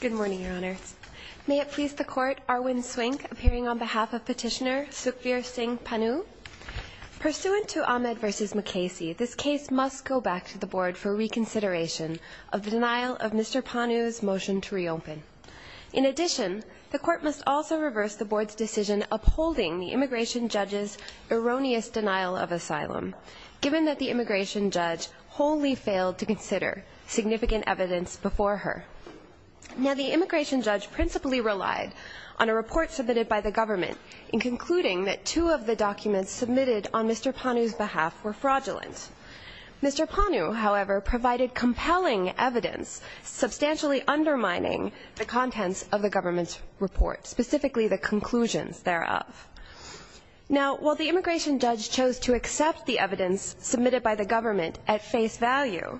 Good morning, Your Honor. May it please the Court, Arwin Swink, appearing on behalf of Petitioner Sukhveer Singh Pannu. Pursuant to Ahmed v. McKasey, this case must go back to the Board for reconsideration of the denial of Mr. Pannu's motion to reopen. In addition, the Court must also reverse the Board's decision upholding the immigration judge's erroneous denial of asylum, given that the immigration judge wholly failed to consider significant evidence before her. The immigration judge principally relied on a report submitted by the government in concluding that two of the documents submitted on Mr. Pannu's behalf were fraudulent. Mr. Pannu, however, provided compelling evidence substantially undermining the contents of the government's report, specifically the conclusions thereof. Now, while the immigration judge chose to accept the evidence submitted by the government at face value,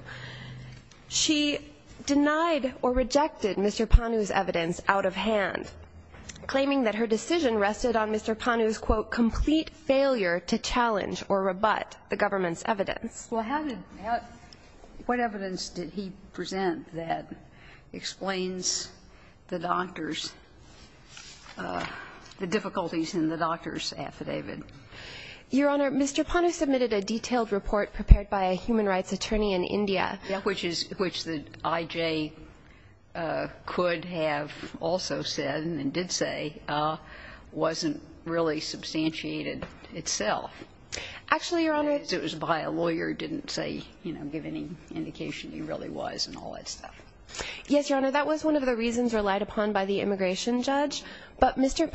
she denied or rejected Mr. Pannu's evidence out of hand, claiming that her decision rested on Mr. Pannu's, quote, complete failure to challenge or rebut the government's evidence. Well, how did that – what evidence did he present that explains the doctor's – the difficulties in the doctor's affidavit? Your Honor, Mr. Pannu submitted a detailed report prepared by a human rights attorney in India, which is – which the I.J. could have also said and did say wasn't really Actually, Your Honor. because it was by a lawyer, didn't say, you know, give any indication he really was and all that stuff. Yes, Your Honor. That was one of the reasons relied upon by the immigration judge. But Mr.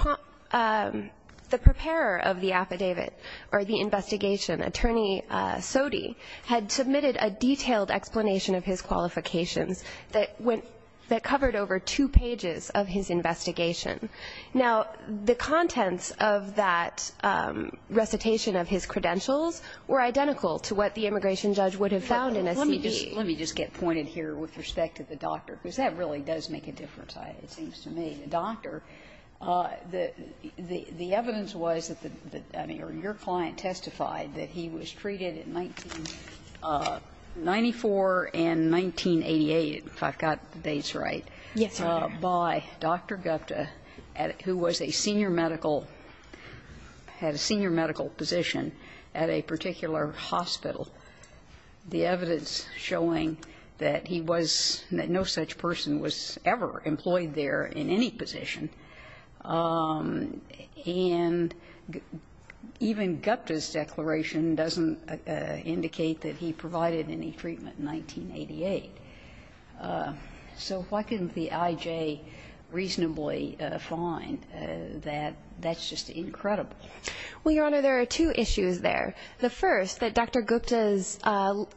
Pannu – the preparer of the affidavit or the investigation, Attorney Sodhi, had submitted a detailed explanation of his qualifications that went – that covered over two pages of his investigation. Now, the contents of that recitation of his credentials were identical to what the immigration judge would have found in a CD. Let me just get pointed here with respect to the doctor, because that really does make a difference, it seems to me. The doctor – the evidence was that the – I mean, or your client testified that he was treated in 1994 and 1988, if I've got the dates right, by Dr. Gupta who was a senior medical – had a senior medical position at a particular hospital, the evidence showing that he was – that no such person was ever employed there in any position. And even Gupta's declaration doesn't indicate that he provided any treatment in 1988. So why couldn't the I.J. reasonably find that that's just incredible? Well, Your Honor, there are two issues there. The first, that Dr. Gupta's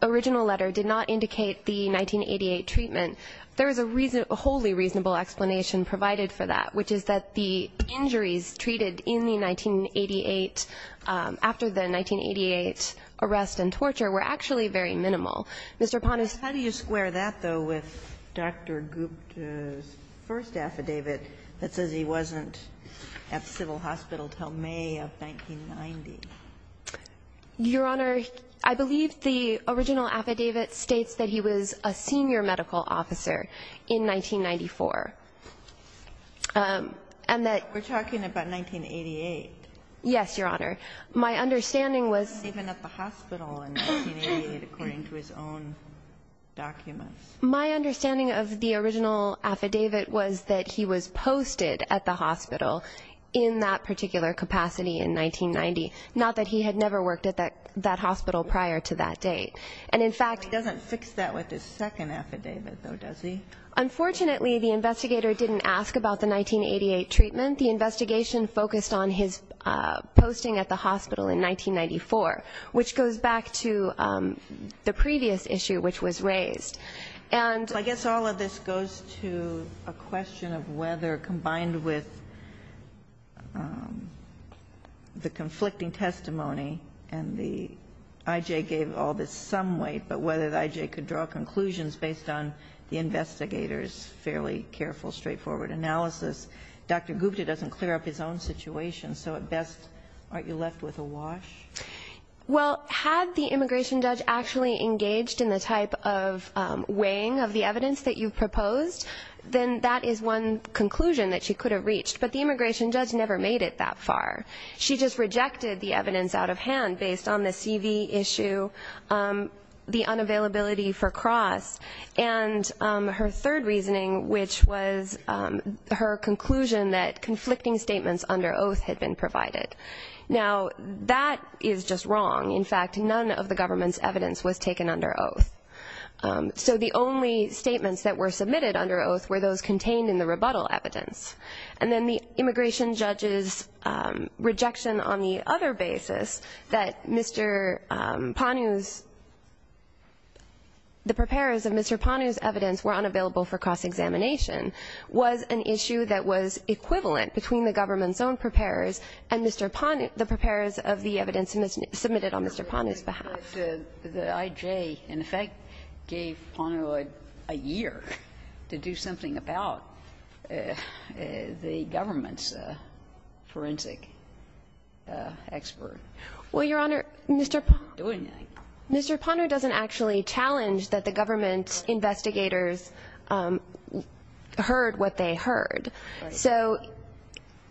original letter did not indicate the 1988 treatment. There is a reason – a wholly reasonable explanation provided for that, which is that the injuries treated in the 1988 – after the 1988 arrest and torture were actually very minimal. Mr. Ponis. How do you square that, though, with Dr. Gupta's first affidavit that says he wasn't at the civil hospital until May of 1990? Your Honor, I believe the original affidavit states that he was a senior medical officer in 1994, and that – But we're talking about 1988. Yes, Your Honor. My understanding was – My understanding of the original affidavit was that he was posted at the hospital in that particular capacity in 1990, not that he had never worked at that hospital prior to that date. And in fact – He doesn't fix that with his second affidavit, though, does he? Unfortunately, the investigator didn't ask about the 1988 treatment. The investigation focused on his posting at the hospital in 1994, which goes back to the previous issue, which was raised. And – Well, I guess all of this goes to a question of whether, combined with the conflicting testimony and the – I.J. gave all this some weight, but whether I.J. could draw conclusions based on the investigator's fairly careful, straightforward analysis, Dr. Gupta doesn't clear up his own situation. So at best, aren't you left with a wash? Well, had the immigration judge actually engaged in the type of weighing of the evidence that you've proposed, then that is one conclusion that she could have reached. But the immigration judge never made it that far. She just rejected the evidence out of hand based on the CV issue, the unavailability for Cross, and her third reasoning, which was her conclusion that conflicting statements under oath had been provided. Now, that is just wrong. In fact, none of the government's evidence was taken under oath. So the only statements that were submitted under oath were those contained in the rebuttal evidence. And then the immigration judge's rejection on the other basis that Mr. Panu's – the preparers of Mr. Panu's evidence were unavailable for cross-examination was an issue that was equivalent between the government's own preparers and Mr. Panu's – the preparers of the evidence submitted on Mr. Panu's behalf. The IJ in effect gave Panu a year to do something about the government's forensic expert. Well, Your Honor, Mr. Panu doesn't actually challenge that the government investigators heard what they heard. So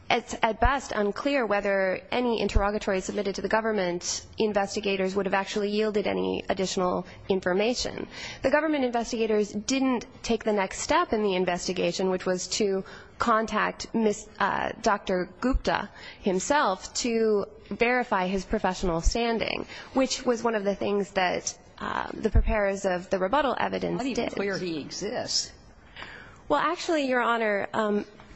it's at best unclear whether any interrogatory submitted to the government investigators would have actually yielded any additional information. The government investigators didn't take the next step in the investigation, which was to contact Dr. Gupta himself to verify his professional standing, which was one of the things that the preparers of the rebuttal evidence did. It's not even clear he exists. Well, actually, Your Honor,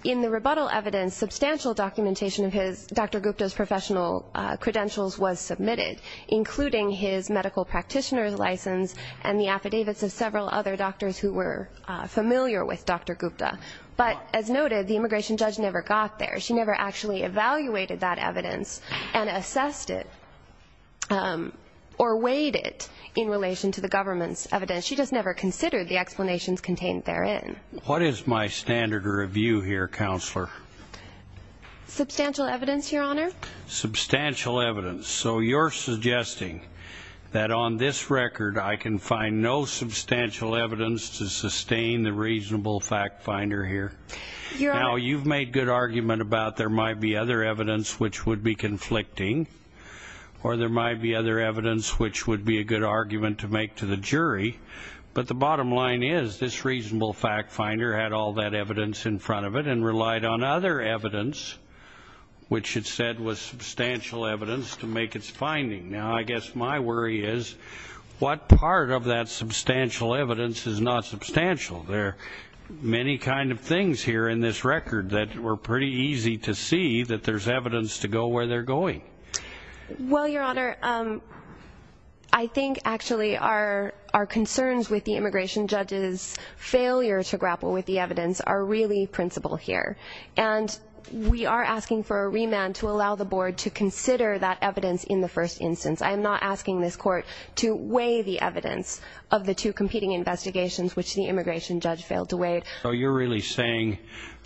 in the rebuttal evidence, substantial documentation of his – Dr. Gupta's professional credentials was submitted, including his medical practitioner's license and the affidavits of several other doctors who were familiar with Dr. Gupta. But as noted, the immigration judge never got there. She never actually evaluated that evidence and assessed it or weighed it in relation to the government's evidence. She just never considered the explanations contained therein. What is my standard review here, Counselor? Substantial evidence, Your Honor. Substantial evidence. So you're suggesting that on this record I can find no substantial evidence to sustain the reasonable fact finder here? Now, you've made good argument about there might be other evidence which would be conflicting or there might be other evidence which would be a good argument to make to the jury. But the bottom line is this reasonable fact finder had all that evidence in front of it and relied on other evidence, which it said was substantial evidence, to make its finding. Now, I guess my worry is what part of that substantial evidence is not substantial? There are many kind of things here in this record that were pretty easy to see that there's evidence to go where they're going. Well, Your Honor, I think actually our concerns with the immigration judge's failure to grapple with the evidence are really principal here. And we are asking for a remand to allow the board to consider that evidence in the first instance. I am not asking this court to weigh the evidence of the two competing investigations which the immigration judge failed to weigh. So you're really saying,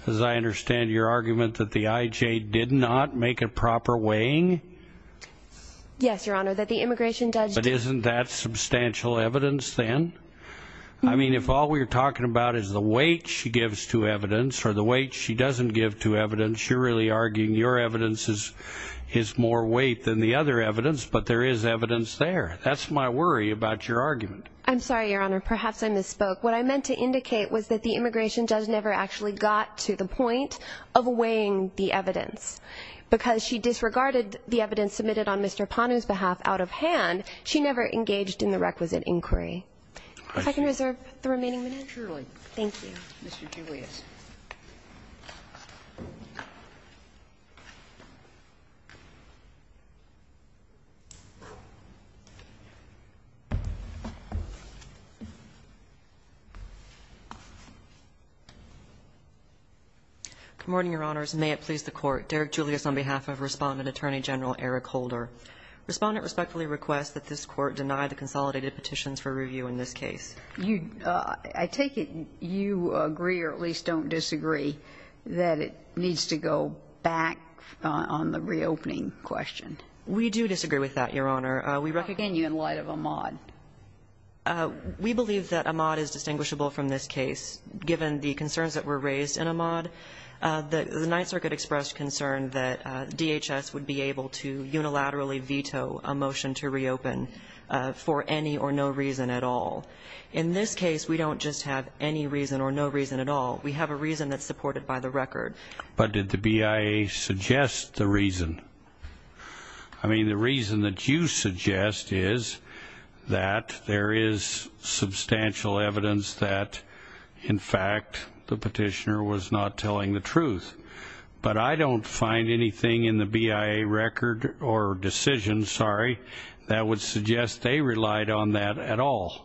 as I understand your argument, that the IJ did not make a proper weighing? Yes, Your Honor, that the immigration judge... But isn't that substantial evidence then? I mean, if all we're talking about is the weight she gives to evidence or the weight she doesn't give to evidence, you're really arguing your evidence is more weight than the other evidence, but there is evidence there. That's my worry about your argument. I'm sorry, Your Honor. Perhaps I misspoke. What I meant to indicate was that the immigration judge never actually got to the point of weighing the evidence. Because she disregarded the evidence submitted on Mr. Panu's behalf out of hand, she never engaged in the requisite inquiry. If I can reserve the remaining minutes? Surely. Thank you. Mr. Julius. Good morning, Your Honors. May it please the Court. Derek Julius on behalf of Respondent Attorney General Eric Holder. Respondent respectfully requests that this Court deny the consolidated petitions for review in this case. I take it you agree or at least don't disagree that it needs to go back on the reopening question. We do disagree with that, Your Honor. Again, in light of Ahmaud. We believe that Ahmaud is distinguishable from this case. Given the concerns that were raised in Ahmaud, the Ninth Circuit expressed concern that DHS would be able to unilaterally veto a motion to reopen for any or no reason at all. In this case, we don't just have any reason or no reason at all. We have a reason that's supported by the record. But did the BIA suggest the reason? I mean, the reason that you suggest is that there is substantial evidence that, in fact, the petitioner was not telling the truth. But I don't find anything in the BIA record or decision, sorry, that would suggest they relied on that at all.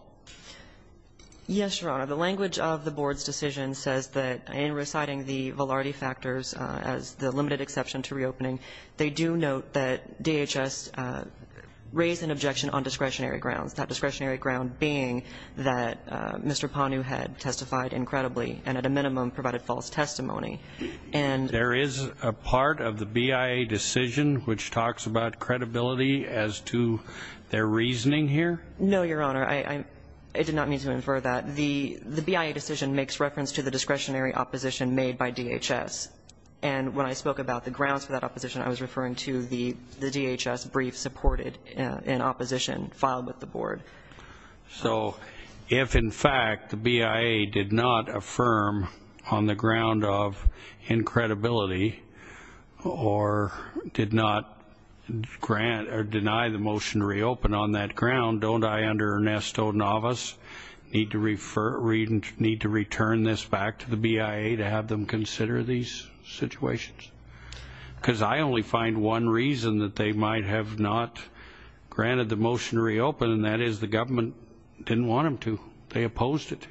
Yes, Your Honor. The language of the Board's decision says that in reciting the Velarde factors as the limited exception to reopening, they do note that DHS raised an objection on discretionary grounds, that discretionary ground being that Mr. Panu had testified incredibly and at a minimum provided false testimony. There is a part of the BIA decision which talks about credibility as to their reasoning here? No, Your Honor. I did not mean to infer that. The BIA decision makes reference to the discretionary opposition made by DHS. And when I spoke about the grounds for that opposition, I was referring to the DHS brief supported in opposition filed with the Board. So if, in fact, the BIA did not affirm on the ground of incredibility or did not grant or deny the motion to reopen on that ground, don't I under Ernesto Navas need to return this back to the BIA to have them consider these situations? Because I only find one reason that they might have not granted the motion to reopen, and that is the government didn't want them to. They opposed it.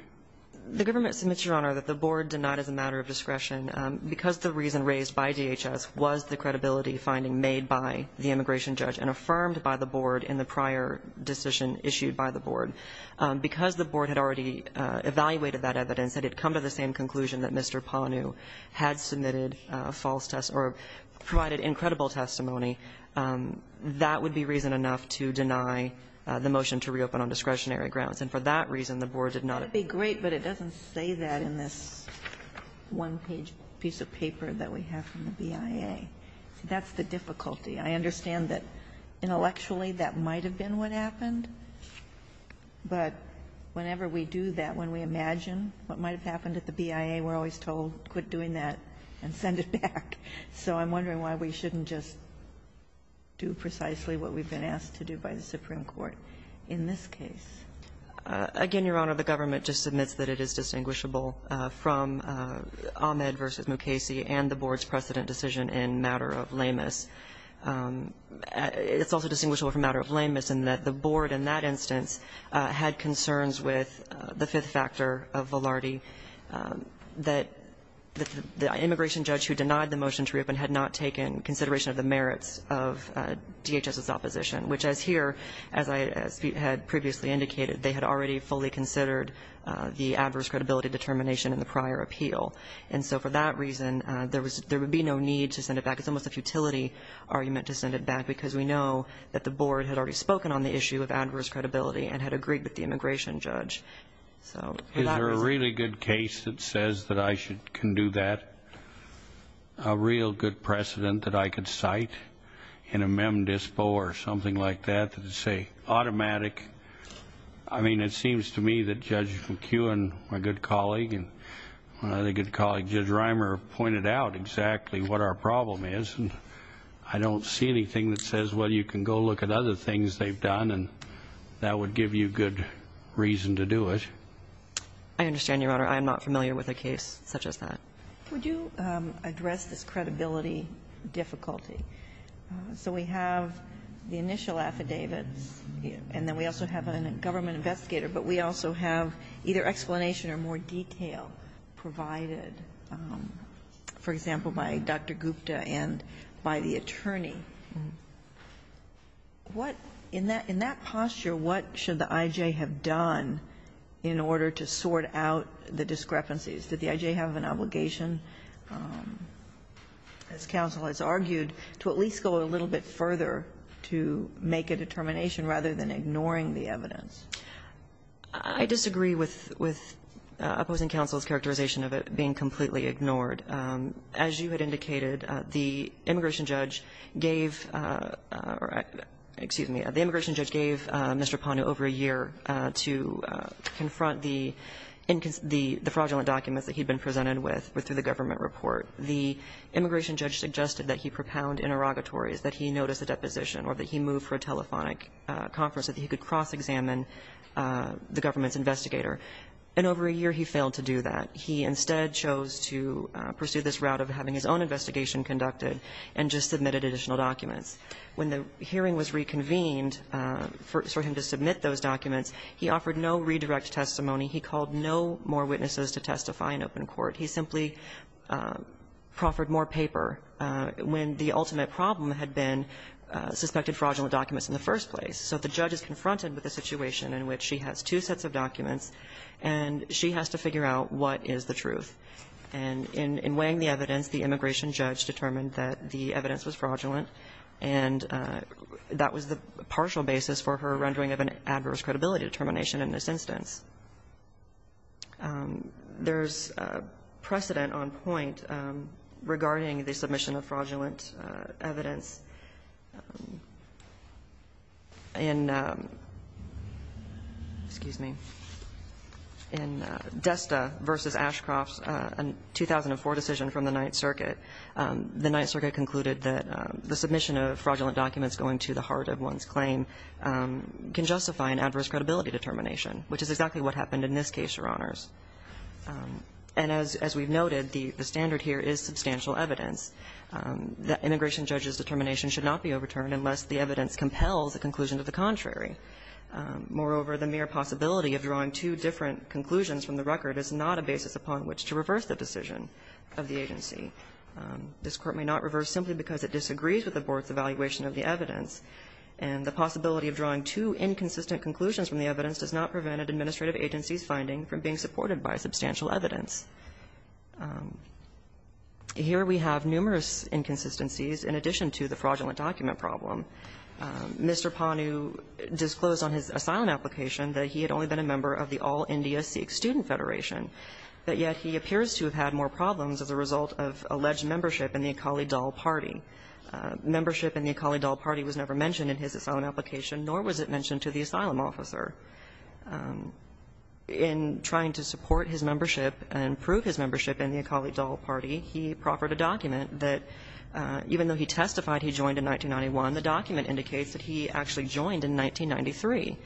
The government submits, Your Honor, that the Board denied as a matter of discretion because the reason raised by DHS was the credibility finding made by the immigration judge and affirmed by the Board in the prior decision issued by the Board. Because the Board had already evaluated that evidence, that it had come to the same conclusion that Mr. Panu had submitted false testimony or provided incredible testimony, that would be reason enough to deny the motion to reopen on discretionary grounds. And for that reason, the Board did not. Ginsburg. That would be great, but it doesn't say that in this one-page piece of paper that we have from the BIA. That's the difficulty. I understand that intellectually that might have been what happened, but whenever we do that, when we imagine what might have happened at the BIA, we're always told quit doing that and send it back. So I'm wondering why we shouldn't just do precisely what we've been asked to do by the Supreme Court in this case. Again, Your Honor, the government just submits that it is distinguishable from Ahmed v. Mukasey and the Board's precedent decision in matter of lameness. It's also distinguishable from matter of lameness in that the Board in that instance had concerns with the fifth factor of Velarde, that the immigration judge who denied the motion to reopen had not taken consideration of the merits of DHS's opposition, which as here, as I had previously indicated, they had already fully considered the adverse credibility determination in the prior appeal. And so for that reason, there would be no need to send it back. It's almost a futility argument to send it back because we know that the Board had already spoken on the issue of adverse credibility and had agreed with the immigration judge. Is there a really good case that says that I can do that? A real good precedent that I could cite in a mem dispo or something like that that would say automatic? I mean, it seems to me that Judge McEwen, my good colleague, and my other good colleague, Judge Reimer, pointed out exactly what our problem is. I don't see anything that says, well, you can go look at other things they've done and that would give you good reason to do it. I understand, Your Honor. I am not familiar with a case such as that. Would you address this credibility difficulty? So we have the initial affidavits and then we also have a government investigator, but we also have either explanation or more detail provided, for example, by Dr. Gupta and by the attorney. In that posture, what should the I.J. have done in order to sort out the discrepancies? Did the I.J. have an obligation, as counsel has argued, to at least go a little bit further to make a determination rather than ignoring the evidence? I disagree with opposing counsel's characterization of it being completely ignored. As you had indicated, the immigration judge gave Mr. Panu over a year to confront the fraudulent documents that he'd been presented with through the government report. The immigration judge suggested that he propound interrogatories, that he notice a deposition or that he move for a telephonic conference so that he could cross-examine the government's investigator. And over a year, he failed to do that. He instead chose to pursue this route of having his own investigation conducted and just submitted additional documents. When the hearing was reconvened for him to submit those documents, he offered no redirect testimony. He called no more witnesses to testify in open court. He simply proffered more paper when the ultimate problem had been suspected fraudulent documents in the first place. So the judge is confronted with a situation in which she has two sets of documents and she has to figure out what is the truth. And in weighing the evidence, the immigration judge determined that the evidence was fraudulent, and that was the partial basis for her rendering of an adverse credibility determination in this instance. There's precedent on point regarding the submission of fraudulent evidence. In Desta v. Ashcroft's 2004 decision from the Ninth Circuit, the Ninth Circuit concluded that the submission of fraudulent documents going to the heart of one's claim can justify an adverse credibility determination, which is exactly what happened in this case, Your Honors. And as we've noted, the standard here is substantial evidence that immigration judge's determination should not be overturned unless the evidence compels a conclusion to the contrary. Moreover, the mere possibility of drawing two different conclusions from the record is not a basis upon which to reverse the decision of the agency. This Court may not reverse simply because it disagrees with the Board's evaluation of the evidence, and the possibility of drawing two inconsistent conclusions from the evidence does not prevent an administrative agency's finding from being supported by substantial evidence. Here we have numerous inconsistencies in addition to the fraudulent document problem. Mr. Panu disclosed on his asylum application that he had only been a member of the All-India Sikh Student Federation, but yet he appears to have had more problems as a result of alleged membership in the Akali Dal Party. Membership in the Akali Dal Party was never mentioned in his asylum application, nor was it mentioned to the asylum officer. In trying to support his membership and prove his membership in the Akali Dal Party, he proffered a document that, even though he testified he joined in 1991, the document indicates that he actually joined in 1993.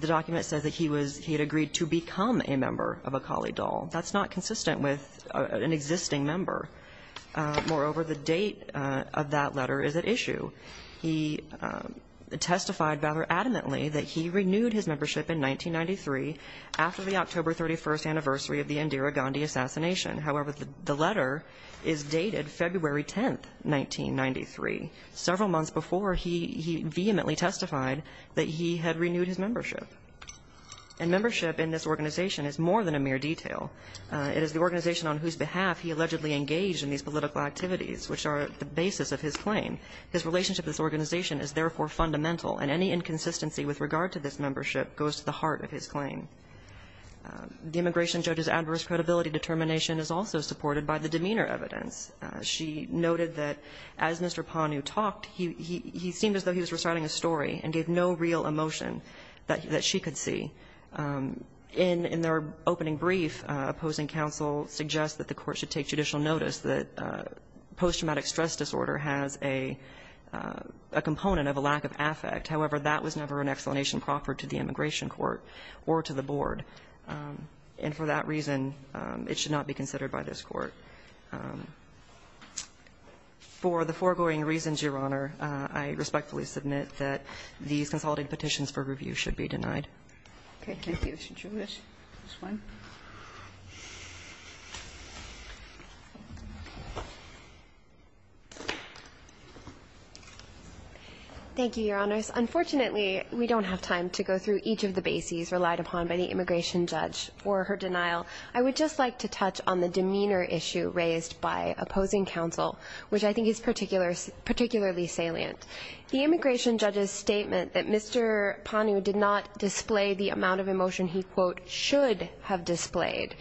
The document says that he was he had agreed to become a member of Akali Dal. That's not consistent with an existing member. Moreover, the date of that letter is at issue. He testified rather adamantly that he renewed his membership in 1993 after the October 31st anniversary of the Indira Gandhi assassination. However, the letter is dated February 10th, 1993, several months before he vehemently testified that he had renewed his membership. And membership in this organization is more than a mere detail. It is the organization on whose behalf he allegedly engaged in these political activities, which are the basis of his claim. His relationship with this organization is therefore fundamental, and any inconsistency with regard to this membership goes to the heart of his claim. The immigration judge's adverse credibility determination is also supported by the demeanor evidence. She noted that as Mr. Panu talked, he seemed as though he was reciting a story and gave no real emotion that she could see. In their opening brief, opposing counsel suggests that the Court should take judicial notice that post-traumatic stress disorder has a component of a lack of affect. However, that was never an explanation proffered to the immigration court or to the board, and for that reason, it should not be considered by this Court. For the foregoing reasons, Your Honor, I respectfully submit that these consolidated petitions for review should be denied. Okay. Thank you. Should you wish this one? Thank you, Your Honors. Unfortunately, we don't have time to go through each of the bases relied upon by the immigration judge for her denial. I would just like to touch on the demeanor issue raised by opposing counsel, which I think is particularly salient. The immigration judge's statement that Mr. Panu did not display the amount of emotion he, quote, should have displayed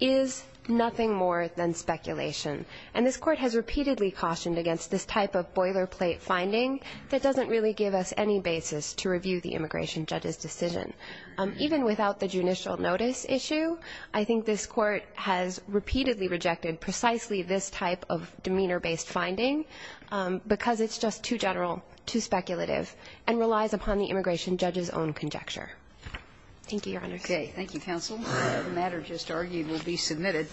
is nothing more than speculation, and this Court has repeatedly cautioned against this type of boilerplate finding that doesn't really give us any basis to review the immigration judge's decision. Even without the judicial notice issue, I think this Court has repeatedly rejected precisely this type of demeanor-based finding because it's just too general, too speculative, and relies upon the immigration judge's own conjecture. Thank you, Your Honors. Okay. Thank you, counsel. The matter just argued will be submitted.